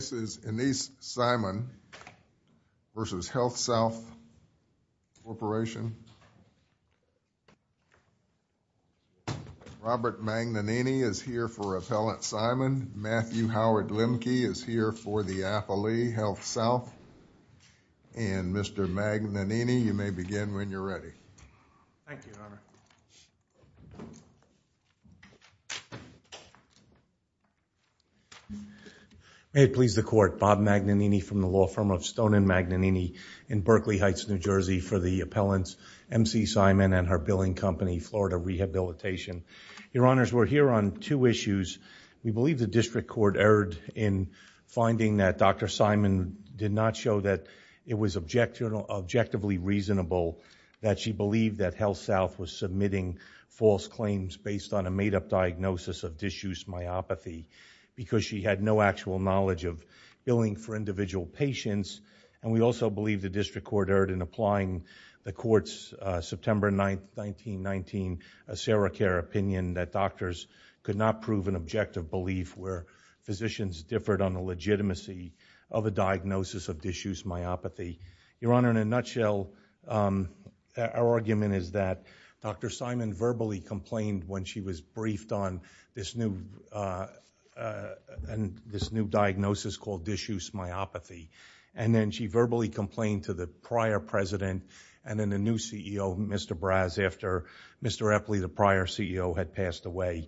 This is Enese Simon v. Healthsouth Corporation. Robert Magnanini is here for Appellant Simon. Matthew Howard-Lemke is here for the Affili Healthsouth. And Mr. Magnanini, you may begin when you're ready. Thank you, Your Honor. May it please the Court, Bob Magnanini from the law firm of Stone & Magnanini in Berkeley Heights, New Jersey, for the Appellant's M.C. Simon and her billing company, Florida Rehabilitation. Your Honors, we're here on two issues. We believe the District Court erred in finding that Dr. Simon did not show that it was objectively reasonable that she believed that Healthsouth was submitting false claims based on a made-up diagnosis of disuse myopathy because she had no actual knowledge of billing for individual patients. And we also believe the District Court erred in applying the Court's September 19, 1919 Sarah Care opinion that doctors could not prove an objective belief where physicians differed on the legitimacy of a diagnosis of disuse myopathy. Your Honor, in a nutshell, our argument is that Dr. Simon verbally complained when she was briefed on this new diagnosis called disuse myopathy. And then she verbally complained to the prior president and then the new CEO, Mr. Braz, after Mr. Epley, the prior CEO, had passed away.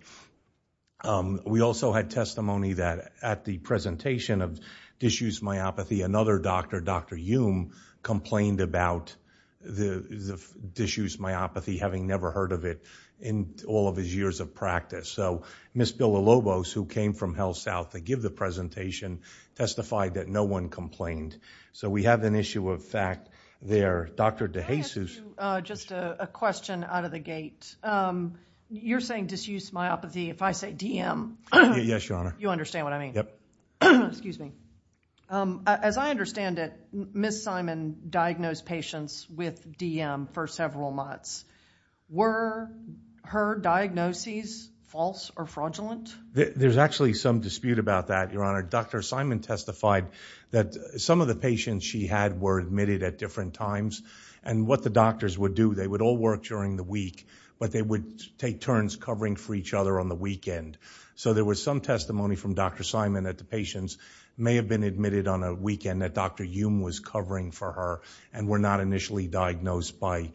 And we also had testimony that at the presentation of disuse myopathy, another doctor, Dr. Youm, complained about the disuse myopathy, having never heard of it in all of his years of practice. So Ms. Billa Lobos, who came from Healthsouth to give the presentation, testified that no one complained. So we have an issue of fact there. Dr. DeJesus. I'm going to ask you just a question out of the gate. First, you're saying disuse myopathy. If I say DM, you understand what I mean. As I understand it, Ms. Simon diagnosed patients with DM for several months. Were her diagnoses false or fraudulent? There's actually some dispute about that, Your Honor. Dr. Simon testified that some of the patients she had were admitted at different times. And what the doctors would do, they would all work during the week, but they would take turns covering for each other on the weekend. So there was some testimony from Dr. Simon that the patients may have been admitted on a weekend that Dr. Youm was covering for her and were not initially diagnosed by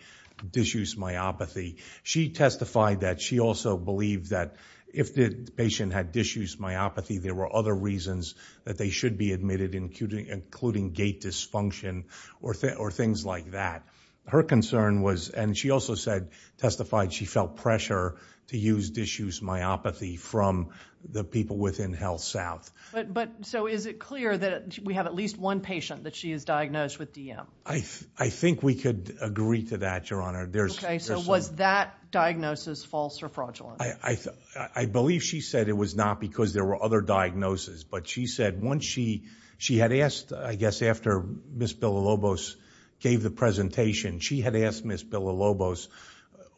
disuse myopathy. She testified that she also believed that if the patient had disuse myopathy, there were other reasons that they should be admitted, including gait dysfunction or things like that. Her concern was, and she also testified, she felt pressure to use disuse myopathy from the people within HealthSouth. Is it clear that we have at least one patient that she has diagnosed with DM? I think we could agree to that, Your Honor. Was that diagnosis false or fraudulent? I believe she said it was not because there were other diagnoses. But she said once she had asked, I guess after Ms. Bilobos gave the presentation, she had asked Ms. Bilobos,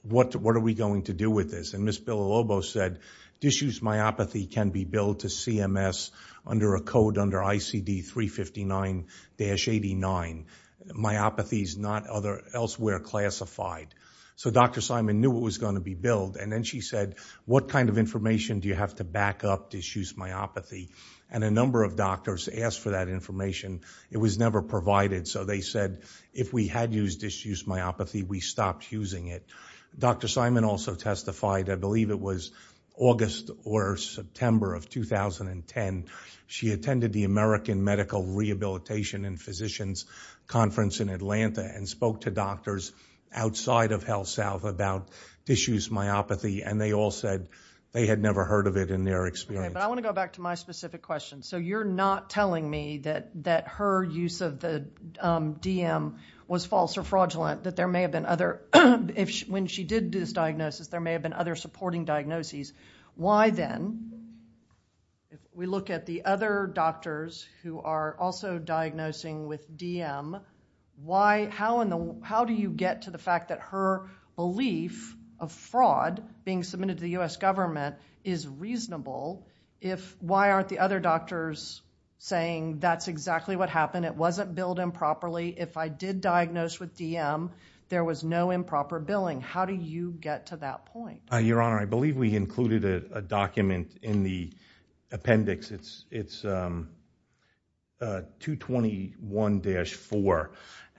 what are we going to do with this? And Ms. Bilobos said, disuse myopathy can be billed to CMS under a code under ICD-359-89. Myopathy is not elsewhere classified. So Dr. Simon knew it was going to be billed, and then she said, what kind of information do you have to back up disuse myopathy? And a number of doctors asked for that information. It was never provided. So they said if we had used disuse myopathy, we stopped using it. Dr. Simon also testified, I believe it was August or September of 2010, she attended the American Medical Rehabilitation and Physicians Conference in Atlanta and spoke to doctors outside of HealthSouth about disuse myopathy. And they all said they had never heard of it in their experience. Okay. But I want to go back to my specific question. So you're not telling me that her use of the DM was false or fraudulent, that there may have been other, when she did this diagnosis, there may have been other supporting diagnoses. Why then, if we look at the other doctors who are also diagnosing with DM, how do you get to the fact that her belief of fraud being submitted to the U.S. government is reasonable if, why aren't the other doctors saying that's exactly what happened? It wasn't billed improperly. If I did diagnose with DM, there was no improper billing. How do you get to that point? Your Honor, I believe we included a document in the appendix. It's 221-4.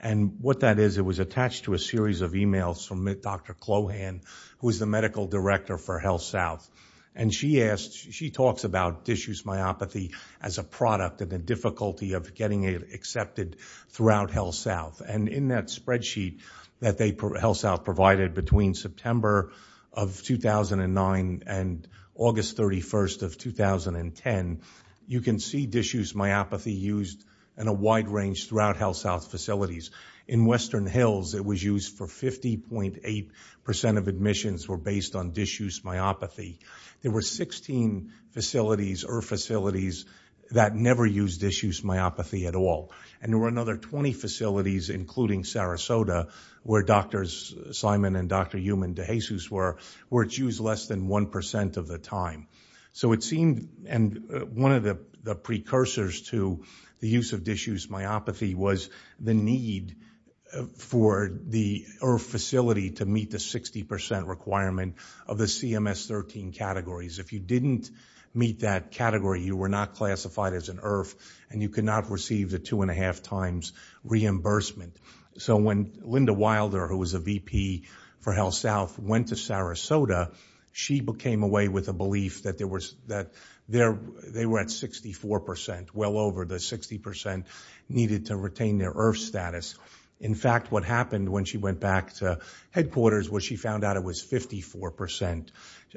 And what that is, it was attached to a series of emails from Dr. Clohan, who is the medical director for HealthSouth. And she asked, she talks about disuse myopathy as a product and the difficulty of getting it accepted throughout HealthSouth. And in that spreadsheet that HealthSouth provided between September of 2009 and August 31st of 2010, you can see disuse myopathy used in a wide range throughout HealthSouth facilities. In Western Hills, it was used for 50.8% of admissions were based on disuse myopathy. There were 16 facilities, IRF facilities, that never used disuse myopathy at all. And there were another 20 facilities, including Sarasota, where Drs. Simon and Dr. Youman DeJesus were, where it's used less than 1% of the time. So it seemed, and one of the precursors to the use of disuse myopathy was the need for the IRF facility to meet the 60% requirement of the CMS-13 categories. If you didn't meet that category, you were not classified as an IRF, and you could not receive the 2.5 times reimbursement. So when Linda Wilder, who was a VP for HealthSouth, went to Sarasota, she came away with a belief that they were at 64%, well over the 60% needed to retain their IRF status. In fact, what happened when she went back to headquarters was she found out it was 54%.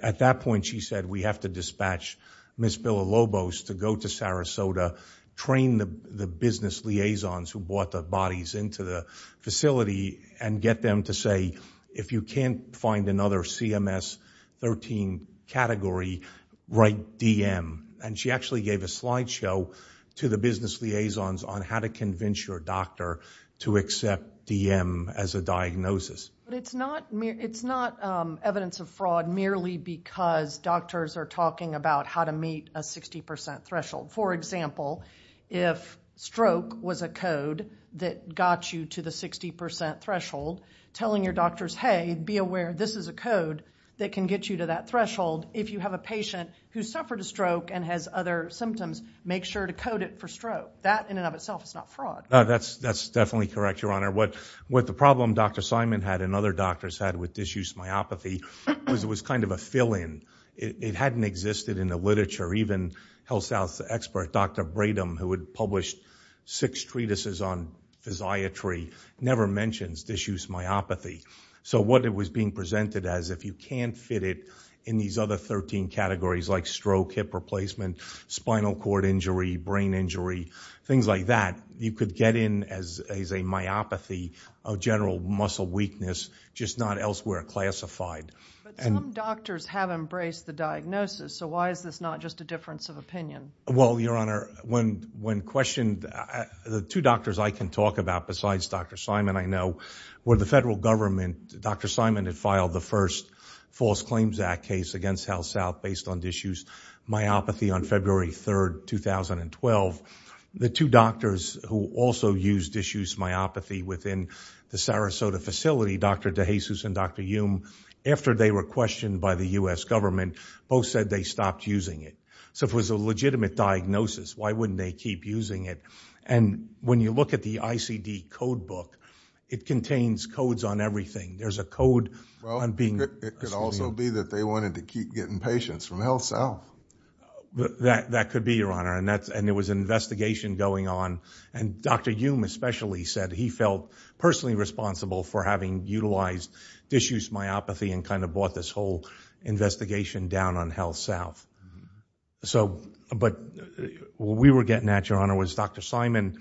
At that point, she said, we have to dispatch Ms. Billa Lobos to go to Sarasota, train the business liaisons who brought the bodies into the facility, and get them to say, if you can't find another CMS-13 category, write DM. And she actually gave a slideshow to the business liaisons on how to convince your doctor to accept DM as a diagnosis. It's not evidence of fraud merely because doctors are talking about how to meet a 60% threshold. For example, if stroke was a code that got you to the 60% threshold, telling your doctors, hey, be aware, this is a code that can get you to that threshold. If you have a patient who suffered a stroke and has other symptoms, make sure to code it for stroke. That, in and of itself, is not fraud. That's definitely correct, Your Honor. What the problem Dr. Simon had and other doctors had with disuse myopathy was it was kind of a fill-in. It hadn't existed in the literature. Even HealthSouth's expert, Dr. Bradom, who had published six treatises on physiatry, never mentions disuse myopathy. So what it was being presented as, if you can't fit it in these other 13 categories like stroke, hip replacement, spinal cord injury, brain injury, things like that, you could get in as a myopathy of general muscle weakness, just not elsewhere classified. But some doctors have embraced the diagnosis. So why is this not just a difference of opinion? Well, Your Honor, when questioned, the two doctors I can talk about besides Dr. Simon I know were the federal government. Dr. Simon had filed the first False Claims Act case against HealthSouth based on disuse myopathy on February 3, 2012. The two doctors who also used disuse myopathy within the Sarasota facility, Dr. DeJesus and Dr. Youm, after they were questioned by the U.S. government, both said they stopped using it. So if it was a legitimate diagnosis, why wouldn't they keep using it? And when you look at the ICD code book, it contains codes on everything. There's a code on being... Well, it could also be that they wanted to keep getting patients from HealthSouth. That could be, Your Honor. And there was an investigation going on. And Dr. Youm especially said he felt personally responsible for having utilized disuse myopathy and kind of brought this whole investigation down on HealthSouth. But what we were getting at, Your Honor, was Dr. Simon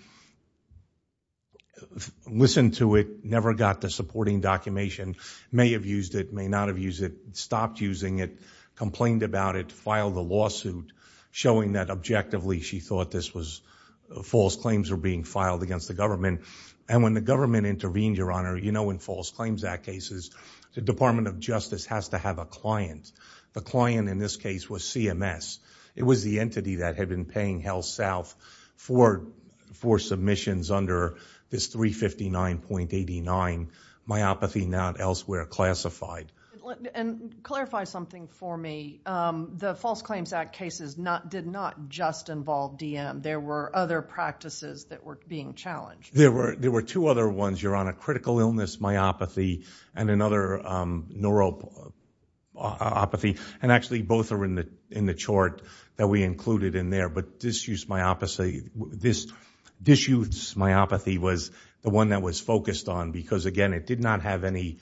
listened to it, never got the supporting documentation, may have used it, may not have used it, stopped using it, complained about it, filed a lawsuit showing that objectively she thought false claims were being filed against the government. And when the government intervened, Your Honor, you know in False Claims Act cases, the Department of Justice has to have a client. The client in this case was CMS. It was the entity that had been paying HealthSouth for submissions under this 359.89 myopathy not elsewhere classified. And clarify something for me. The False Claims Act cases did not just involve DM. There were other practices that were being challenged. There were two other ones, Your Honor. One critical illness myopathy and another neuropathy. And actually both are in the chart that we included in there. But disuse myopathy, this disuse myopathy was the one that was focused on because again it did not have any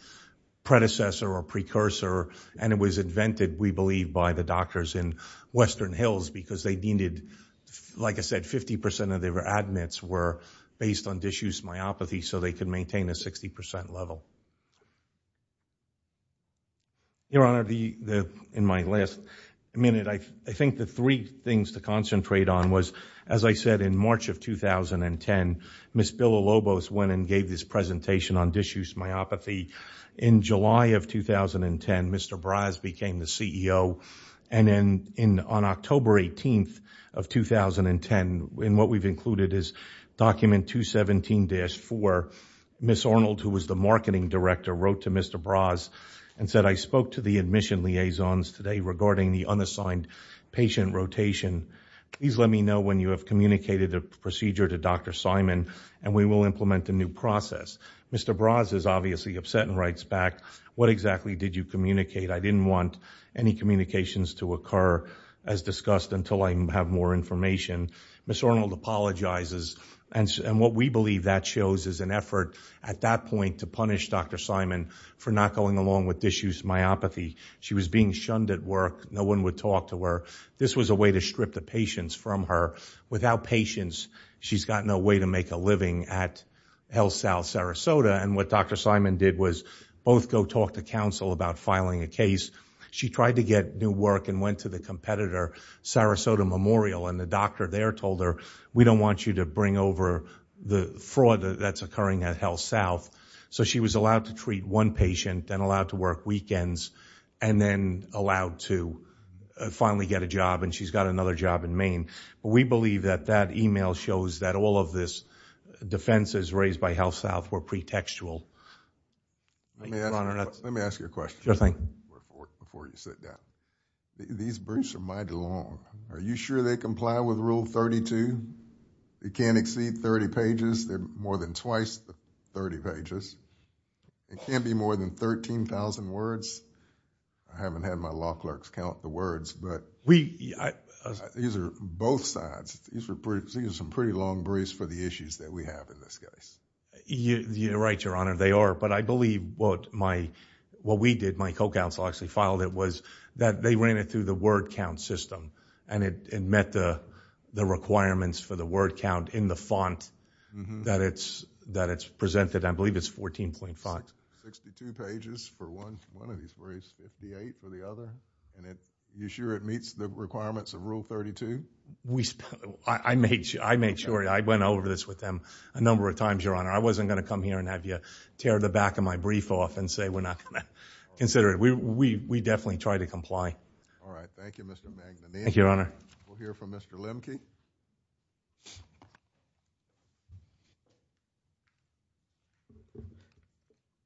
predecessor or precursor and it was invented, we believe, by the doctors in Western Hills because they needed, like I said, 50% of their admits were based on a 60% level. Your Honor, in my last minute, I think the three things to concentrate on was, as I said, in March of 2010, Ms. Bill Alobos went and gave this presentation on disuse myopathy. In July of 2010, Mr. Braz became the CEO. And on October 18th of 2010, in what we've included is document 217-4, Ms. Arnold, who was the marketing director, wrote to Mr. Braz and said, I spoke to the admission liaisons today regarding the unassigned patient rotation. Please let me know when you have communicated the procedure to Dr. Simon and we will implement a new process. Mr. Braz is obviously upset and writes back, what exactly did you communicate? I didn't want any communications to occur as discussed until I have more information. Ms. Arnold apologizes. And what we believe that shows is an effort at that point to punish Dr. Simon for not going along with disuse myopathy. She was being shunned at work. No one would talk to her. This was a way to strip the patients from her. Without patients, she's got no way to make a living at HealthSouth Sarasota. And what Dr. Simon did was both go talk to counsel about filing a case. She tried to get new work and went to the competitor, Sarasota Memorial, and the doctor there told her, we don't want you to bring over the fraud that's occurring at HealthSouth. So she was allowed to treat one patient, then allowed to work weekends, and then allowed to finally get a job, and she's got another job in Maine. We believe that that email shows that all of this defense is raised by HealthSouth were pretextual. Thank you, Your Honor. Let me ask you a question. Sure thing. Before you sit down. These briefs are mighty long. Are you sure they comply with Rule 32? It can't exceed 30 pages. They're more than twice the 30 pages. It can't be more than 13,000 words. I haven't had my law clerks count the words, but... We... These are both sides. These are some pretty long briefs for the issues that we have in this case. You're right, Your Honor. They are, but I believe what we did, my co-counsel actually filed it, was that they ran it through the word count system, and it met the requirements for the word count in the font that it's presented. I believe it's 14.5. Sixty-two pages for one of these briefs, 58 for the other, and you sure it meets the requirements of Rule 32? I made sure. I went over this with them a number of times, Your Honor. I wasn't going to come here and have you tear the back of my brief off and say we're not going to consider it. We definitely try to comply. All right. Thank you, Mr. Magnanian. Thank you, Your Honor. We'll hear from Mr. Lemke.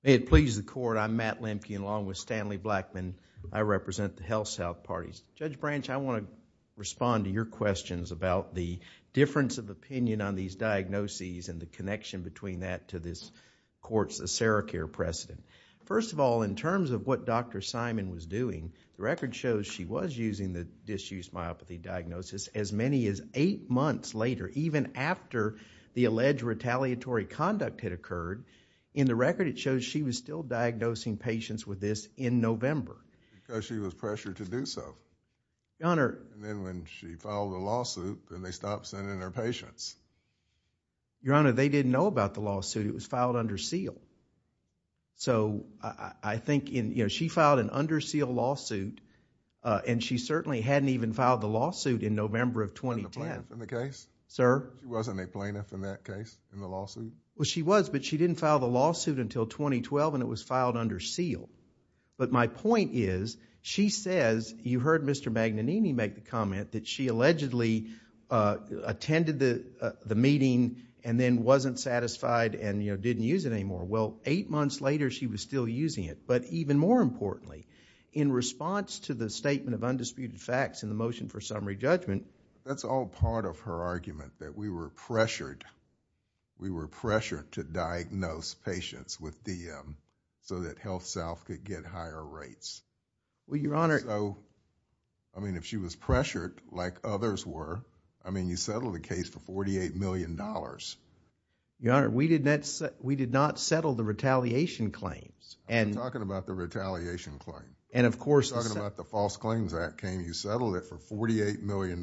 May it please the Court, I'm Matt Lemke, and along with Stanley Blackman, I represent the HealthSouth parties. Judge Branch, I want to respond to your questions about the difference of opinion on these diagnoses and the connection between that to this court's ACERICARE precedent. First of all, in terms of what Dr. Simon was doing, the record shows she was using the disused myopathy diagnosis as many as eight months later, even after the alleged retaliatory conduct had occurred. In the record, it shows she was still diagnosing patients with this in November. She was pressured to do so. Your Honor... Then when she filed the lawsuit, then they stopped sending her patients. Your Honor, they didn't know about the lawsuit. It was filed under seal. I think she filed an under seal lawsuit, and she certainly hadn't even filed the lawsuit in November of 2010. Wasn't there a plaintiff in the case? Sir? Wasn't there a plaintiff in that case, in the lawsuit? She was, but she didn't file the lawsuit until 2012, and it was filed under seal. My point is, she says, you heard Mr. Magnanini make the comment that she allegedly attended the meeting and then wasn't satisfied and didn't use it anymore. Well, eight months later, she was still using it, but even more importantly, in response to the statement of undisputed facts in the motion for summary judgment... That's all part of her argument, that we were pressured. We were pressured to diagnose patients with DM, so that HealthSouth could get higher rates. Well, Your Honor... I mean, if she was pressured like others were, I mean, you settled the case for $48 million. Your Honor, we did not settle the retaliation claims, and... I'm talking about the retaliation claims. Of course, the... I'm talking about the False Claims Act. Can you settle it for $48 million?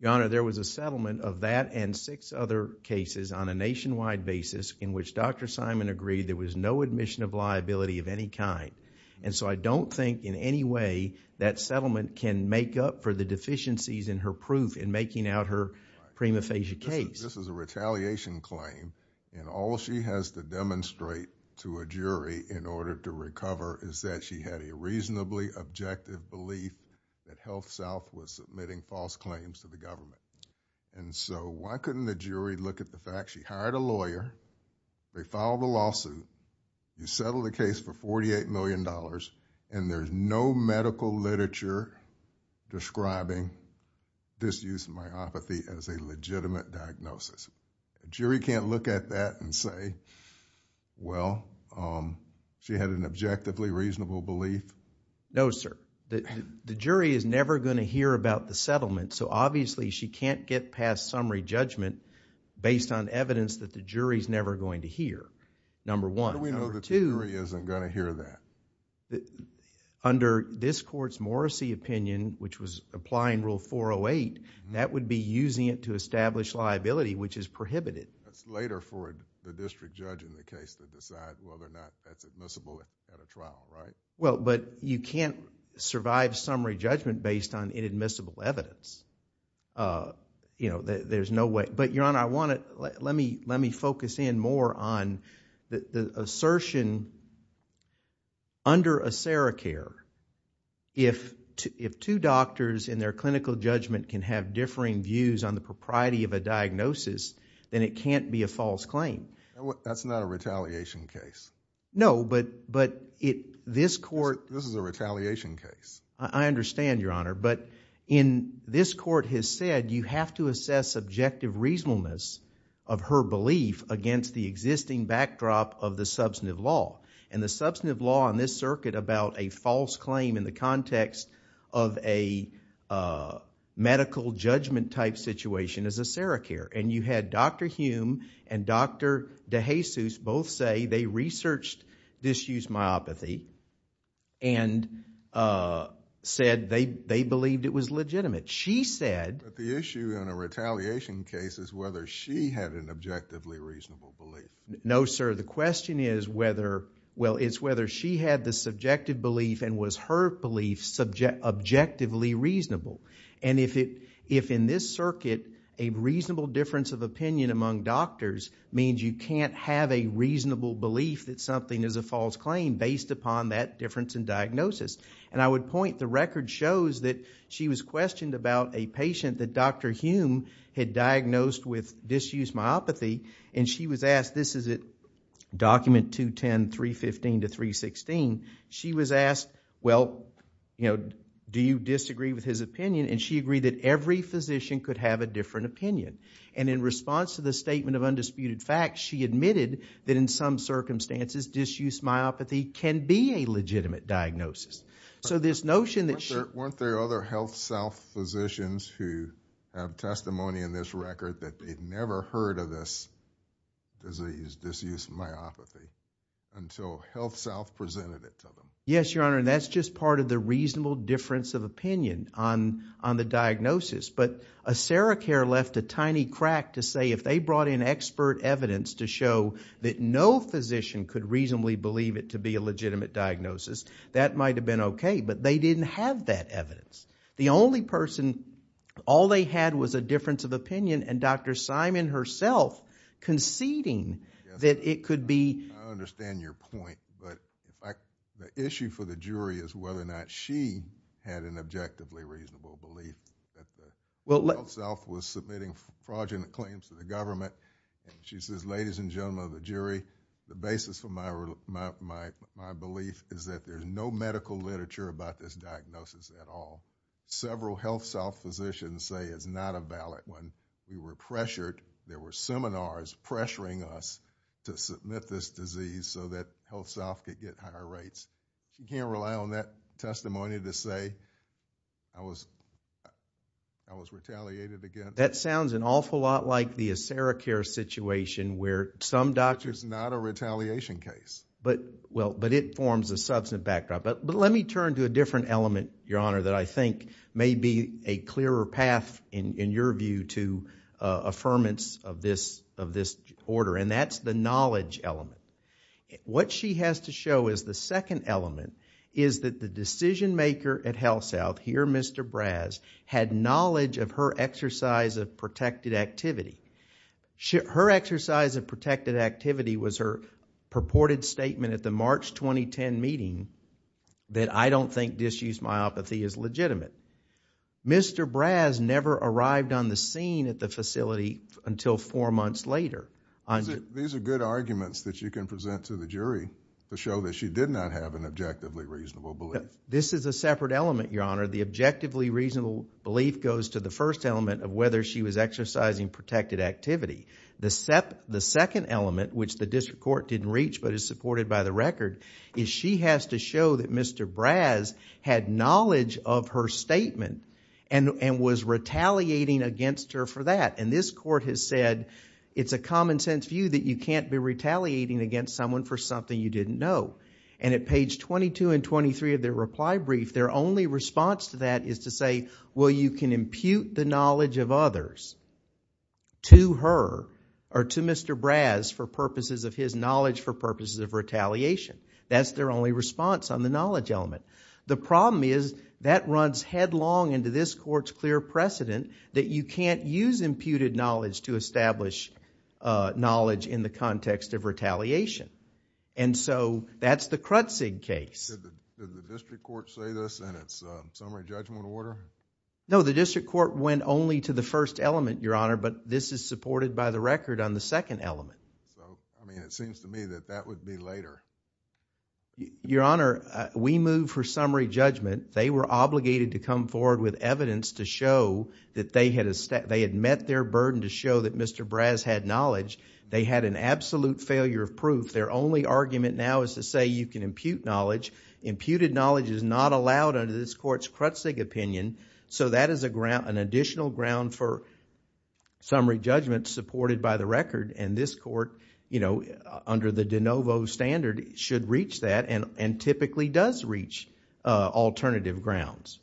Your Honor, there was a settlement of that and six other cases on a nationwide basis in which Dr. Simon agreed there was no admission of liability of any kind. I don't think in any way that settlement can make up for the deficiencies in her proof in making out her prima facie case. This is a retaliation claim, and all she has to demonstrate to a jury in order to recover is that she had a reasonably objective belief that HealthSouth was submitting false claims to the government. Why couldn't the jury look at the fact she hired a lawyer, they filed a lawsuit, you settled the case for $48 million, and there's no medical literature describing disuse of myopathy as a legitimate diagnosis? Jury can't look at that and say, well, she had an objectively reasonable belief? No, sir. The jury is never going to hear about the settlement, so obviously, she can't get past summary judgment based on evidence that the jury's never going to hear. Number one. How do we know the jury isn't going to hear that? Under this court's Morrissey opinion, which was applying Rule 408, that would be using it to establish liability, which is prohibited. It's later for the district judge in the case to decide whether or not that's admissible at a trial, right? You can't survive summary judgment based on inadmissible evidence. There's no way... Your Honor, let me focus in more on the assertion that under ACERICARE, if two doctors in their clinical judgment can have differing views on the propriety of a diagnosis, then it can't be a false claim. That's not a retaliation case. No, but this court... This is a retaliation case. I understand, Your Honor, but this court has said you have to assess subjective reasonableness of her belief against the existing backdrop of the substantive law, and the substantive law in this circuit about a false claim in the context of a medical judgment type situation is ACERICARE. You had Dr. Hume and Dr. DeJesus both say they researched this used myopathy and said they believed it was legitimate. She said... The issue in a retaliation case is whether she had an objectively reasonable belief. No, sir. The question is whether... Well, it's whether she had the subjective belief and was her belief objectively reasonable. If in this circuit, a reasonable difference of opinion among doctors means you can't have a reasonable belief that something is a false claim based upon that difference in diagnosis, and I would point... The record shows that she was questioned about a patient that Dr. Hume had diagnosed with disused myopathy, and she was asked... This is at document 210.315 to 316. She was asked, well, do you disagree with his opinion? She agreed that every physician could have a different opinion, and in response to the statement of undisputed facts, she admitted that in some circumstances disused myopathy can be a legitimate diagnosis, so this notion that... Weren't there other health self-physicians who have testimony in this record that they'd never heard of this disease, disused myopathy, until HealthSouth presented it to them? Yes, Your Honor, and that's just part of the reasonable difference of opinion on the diagnosis, but Acericare left a tiny crack to say if they brought in expert evidence to show that no physician could reasonably believe it to be a legitimate diagnosis, that might have been okay, but they didn't have that evidence. The only person... All they had was a difference of opinion, and Dr. Simon herself conceding that it could be... I understand your point, but the issue for the jury is whether or not she had an objectively reasonable belief that the HealthSouth was submitting fraudulent claims to the government, and she says, ladies and gentlemen of the jury, the basis for my belief is that there's no medical literature about this diagnosis at all. Several HealthSouth physicians say it's not a valid one. We were pressured. There were seminars pressuring us to submit this disease so that HealthSouth could get higher rates. You can't rely on that testimony to say, I was retaliated against. That sounds an awful lot like the Acericare situation where some doctors... Which is not a retaliation case. But it forms a substantive backdrop, but let me turn to a different element that I think may be a clearer path, in your view, to affirmance of this order, and that's the knowledge element. What she has to show is the second element is that the decision maker at HealthSouth, here Mr. Braz, had knowledge of her exercise of protected activity. Her exercise of protected activity was her purported statement at the March 2010 meeting that I don't think disuse myopathy is legitimate. Mr. Braz never arrived on the scene at the facility until four months later. These are good arguments that you can present to the jury to show that she did not have an objectively reasonable belief. This is a separate element, your honor. The objectively reasonable belief goes to the first element of whether she was exercising protected activity. The second element, which the district court didn't reach but is supported by the record, is she has to show that Mr. Braz had knowledge of her statement and was retaliating against her for that. This court has said it's a common sense view that you can't be retaliating against someone for something you didn't know. At page 22 and 23 of their reply brief, their only response to that is to say, well, you can impute the knowledge of others to her or to Mr. Braz for purposes of his knowledge for purposes of retaliation. That's their only response on the knowledge element. The problem is that runs headlong into this court's clear precedent that you can't use imputed knowledge to establish knowledge in the context of retaliation. That's the Krutzig case. Did the district court say this in its summary judgment order? No. The district court went only to the first element, your honor, but this is supported by the record on the second element. It seems to me that that would be later. Your honor, we move for summary judgment. They were obligated to come forward with evidence to show that they had met their burden to show that Mr. Braz had knowledge. They had an absolute failure of proof. Their only argument now is to say you can impute knowledge. Imputed knowledge is not allowed under this court's Krutzig opinion. That is an additional ground for summary judgment supported by the record. This court, under the DeNovo standard, should reach that and typically does reach alternative grounds.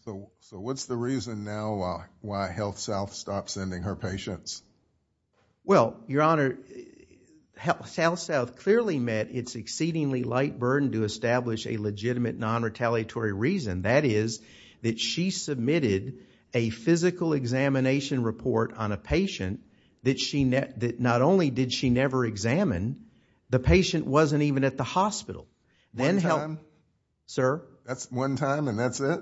What's the reason now why HealthSouth stopped sending her patients? Your honor, HealthSouth clearly met its exceedingly light burden to establish a legitimate non-retaliatory reason. That is that she submitted a physical examination report on a patient that not only did she never examine, the patient wasn't even at the hospital. One time? Sir? That's one time and that's it?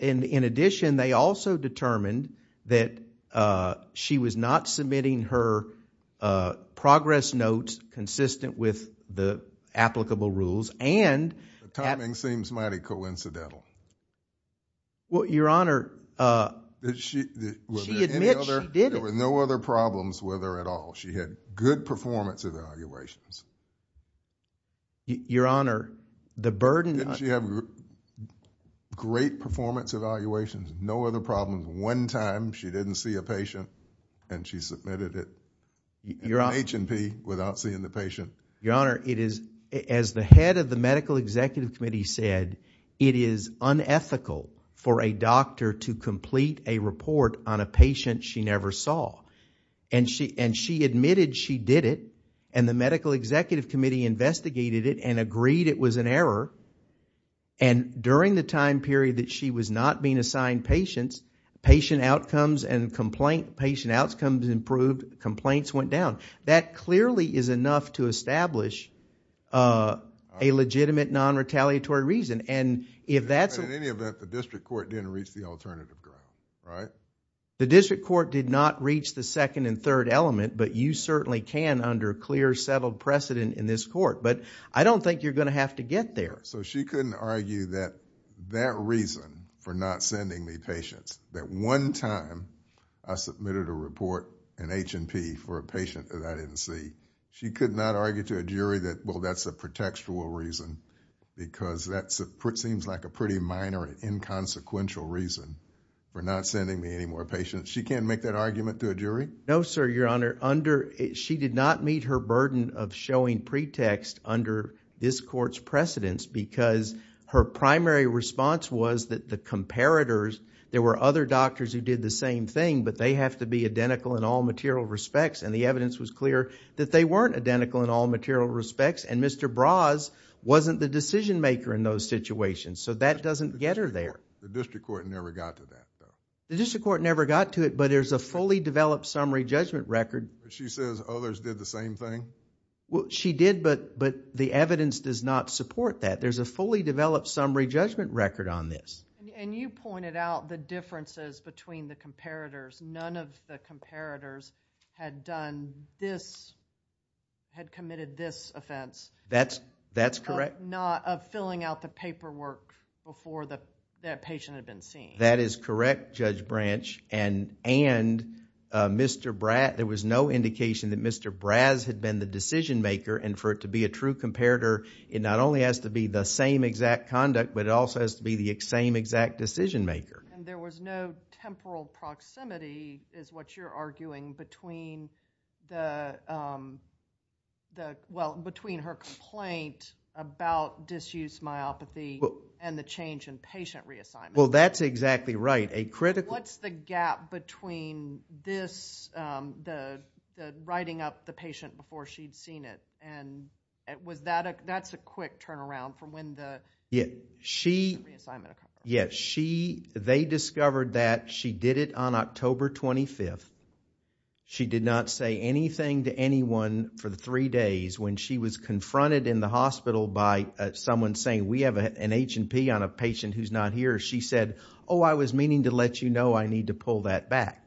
In addition, they also determined that she was not submitting her progress notes consistent with the applicable rules and... The timing seems mighty coincidental. Your honor, she admits she did it. There were no other problems with her at all. She had good performance evaluations. Your honor, the burden... Didn't she have great performance evaluations? No other problems? One time she didn't see a patient and she submitted it in an H&P without seeing the patient. Your honor, as the head of the Medical Executive Committee said, it is unethical for a doctor to complete a report on a patient she never saw. She admitted she did it and the Medical Executive Committee investigated it and agreed it was an error. During the time period that she was not being assigned patients, patient outcomes and complaint... patient outcomes improved, complaints went down. That clearly is enough to establish a legitimate non-retaliatory reason. If that's... In any event, the district court didn't reach the alternative ground, right? The district court did not reach the second and third element, but you certainly can under clear, settled precedent in this court. I don't think you're going to have to get there. She couldn't argue that that reason for not sending me patients, that one time I submitted a report in H&P for a patient that I didn't see, she could not... seems like a pretty minor and inconsequential reason for not sending me any more patients. She can't make that argument to a jury? No, sir, your honor. She did not meet her burden of showing pretext under this court's precedence because her primary response was that the comparators, there were other doctors who did the same thing, but they have to be identical in all material respects and the evidence was clear that they weren't identical in all material respects and Mr. Braz wasn't the decision maker in those situations, so that doesn't get her there. The district court never got to that, though? The district court never got to it, but there's a fully developed summary judgment record. She says others did the same thing? She did, but the evidence does not support that. There's a fully developed summary judgment record on this. You pointed out the differences between the comparators. None of the comparators had committed this offense... That's correct.... of filling out the paperwork before that patient had been seen. That is correct, Judge Branch, and there was no indication that Mr. Braz had been the decision maker and for it to be a true comparator, it not only has to be the same exact conduct, but it also has to be the same exact decision maker. There was no temporal proximity is what you're arguing between the... well, between her complaint about disuse myopathy and the change in patient reassignment. Well, that's exactly right. A critical... What's the gap between this, the writing up the patient before she'd seen it and was that... that's a quick turnaround from when the... She... they discovered that she did it on October 25th. She did not say anything to anyone for the three days when she was confronted in the hospital by someone saying, we have an H&P on a patient who's not here. She said, oh, I was meaning to let you know I need to pull that back.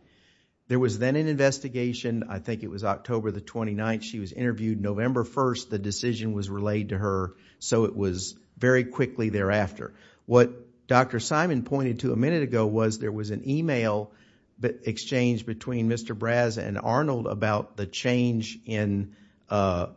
There was then an investigation, I think it was October the 29th, she was interviewed. November 1st, the decision was relayed to her, so it was very quickly thereafter. What Dr. Simon pointed to a minute ago was there was an email exchange between Mr. Braz and Arnold about the change in... a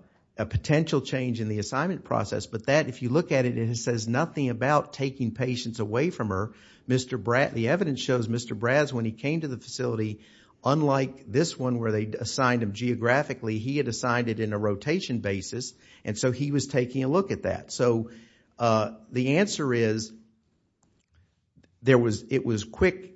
potential change in the assignment process, but that, if you look at it, it says nothing about taking patients away from her. The evidence shows Mr. Braz, when he came to the facility, unlike this one where they assigned him geographically, he had assigned it in a rotation basis, and so he was taking a look at that. The answer is, it was quick.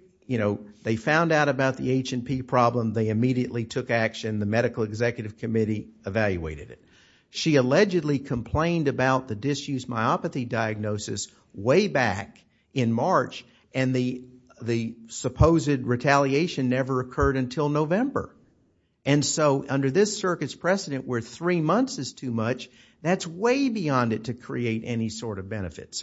They found out about the H&P problem, they immediately took action. The medical executive committee evaluated it. She allegedly complained about the disuse myopathy diagnosis way back in November. Under this circuit's precedent where three months is too much, that's way beyond it to create any sort of benefit.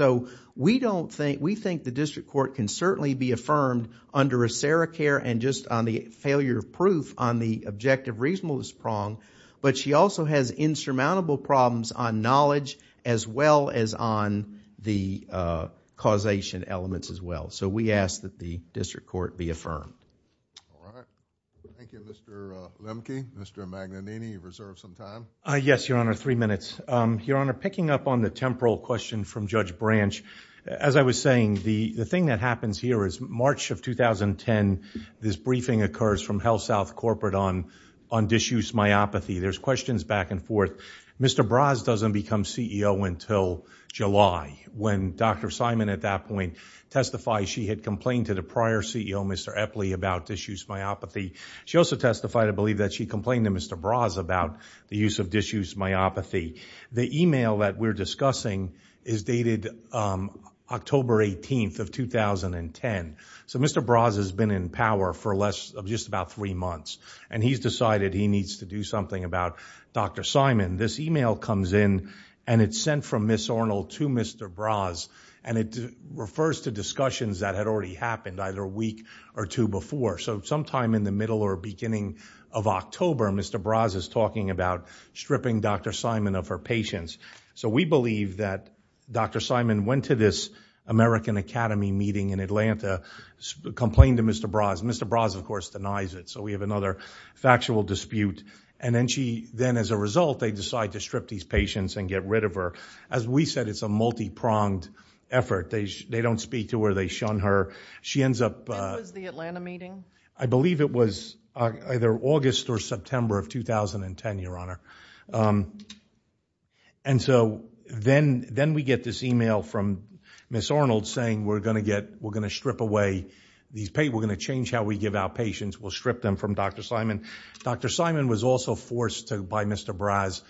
We think the district court can certainly be affirmed under a sericare and just on the failure of proof on the objective reasonableness prong, but she also has insurmountable problems on knowledge as well as on the causation elements as well. We ask that the district court be affirmed. Thank you, Mr. Lemke. Mr. Magnanini, you've reserved some time. Yes, Your Honor, three minutes. Your Honor, picking up on the temporal question from Judge Branch, as I was saying, the thing that happens here is March of 2010, this briefing occurs from HealthSouth Corporate on disuse myopathy. There's questions back and forth. Mr. Braz doesn't become CEO until July, when Dr. Simon at that point testified she had complained to the prior CEO, Mr. Epley, about disuse myopathy. She also testified, I believe, that she complained to Mr. Braz about the use of disuse myopathy. The email that we're discussing is dated October 18th of 2010. So Mr. Braz has been in power for just about three months, and he's decided he needs to do something about Dr. Simon. This email comes in, and it's sent from Ms. Ornell to Mr. Braz, and it refers to discussions that had already happened either a week or two before. So sometime in the middle or beginning of October, Mr. Braz is talking about stripping Dr. Simon of her patience. So we believe that Dr. Simon went to this American Academy meeting in Atlanta, complained to Mr. Braz. Mr. Braz, of course, denies it. So we have another factual dispute. And then as a result, they decide to strip these patients and get rid of her. As we said, it's a multi-pronged effort. They don't speak to her. They shun her. She ends up— When was the Atlanta meeting? I believe it was either August or September of 2010, Your Honor. And so then we get this email from Ms. Ornell saying, we're going to strip away these—we're going to change how we give out patients. We'll strip them from Dr. Simon. Dr. Simon was also forced to, by Mr. Braz,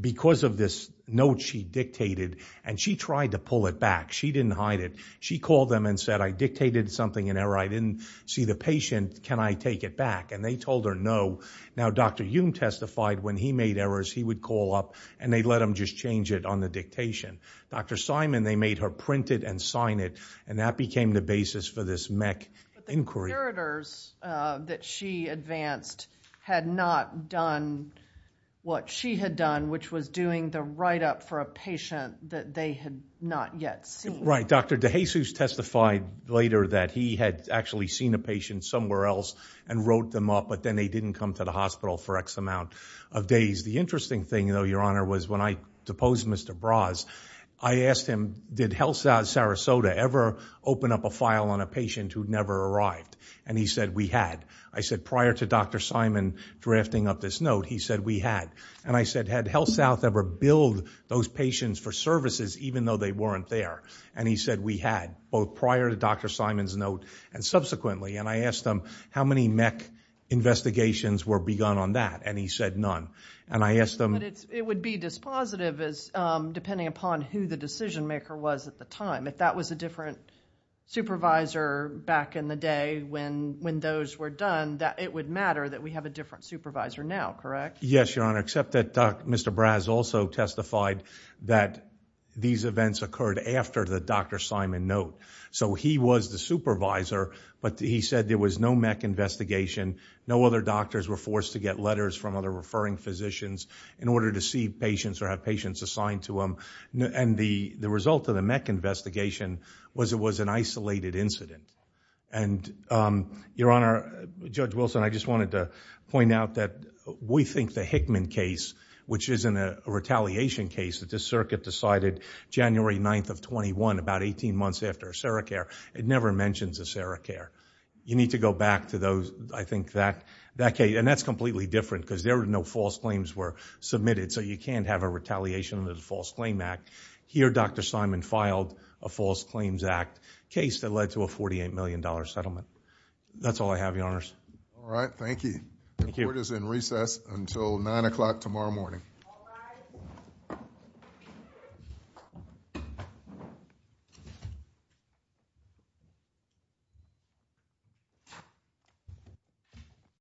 because of this note she dictated, and she tried to pull it back. She didn't hide it. She called them and said, I dictated something in error. I didn't see the patient. Can I take it back? And they told her no. Now Dr. Youm testified when he made errors, he would call up and they'd let him just change it on the dictation. Dr. Simon, they made her print it and sign it. And that became the basis for this MEC inquiry. The curators that she advanced had not done what she had done, which was doing the write-up for a patient that they had not yet seen. Right. Dr. DeJesus testified later that he had actually seen a patient somewhere else and wrote them up, but then they didn't come to the hospital for X amount of days. The interesting thing, though, Your Honor, was when I deposed Mr. Braz, I asked him, did HealthSouth Sarasota ever open up a file on a patient who'd never arrived? And he said, we had. I said, prior to Dr. Simon drafting up this note, he said, we had. And I said, had HealthSouth ever billed those patients for services even though they weren't there? And he said, we had, both prior to Dr. Simon's note and subsequently. And I asked him, how many MEC investigations were begun on that? And he said, none. And I asked him- But it would be dispositive, depending upon who the decision-maker was at the time. If that was a different supervisor back in the day when those were done, it would matter that we have a different supervisor now, correct? Yes, Your Honor, except that Mr. Braz also testified that these events occurred after the Dr. Simon note. So he was the supervisor, but he said there was no MEC investigation. No other doctors were forced to get letters from other referring physicians in order to see patients or have patients assigned to them. And the result of the MEC investigation was it was an isolated incident. And Your Honor, Judge Wilson, I just wanted to point out that we think the Hickman case, which is a retaliation case that the circuit decided January 9th of 21, about 18 months after a sericare, it never mentions a sericare. You need to go back to those, I think, that case. And that's completely different because there were no false claims were in the MEC. Here, Dr. Simon filed a false claims act case that led to a $48 million settlement. That's all I have, Your Honors. All right. Thank you. Thank you. The court is in recess until 9 o'clock tomorrow morning.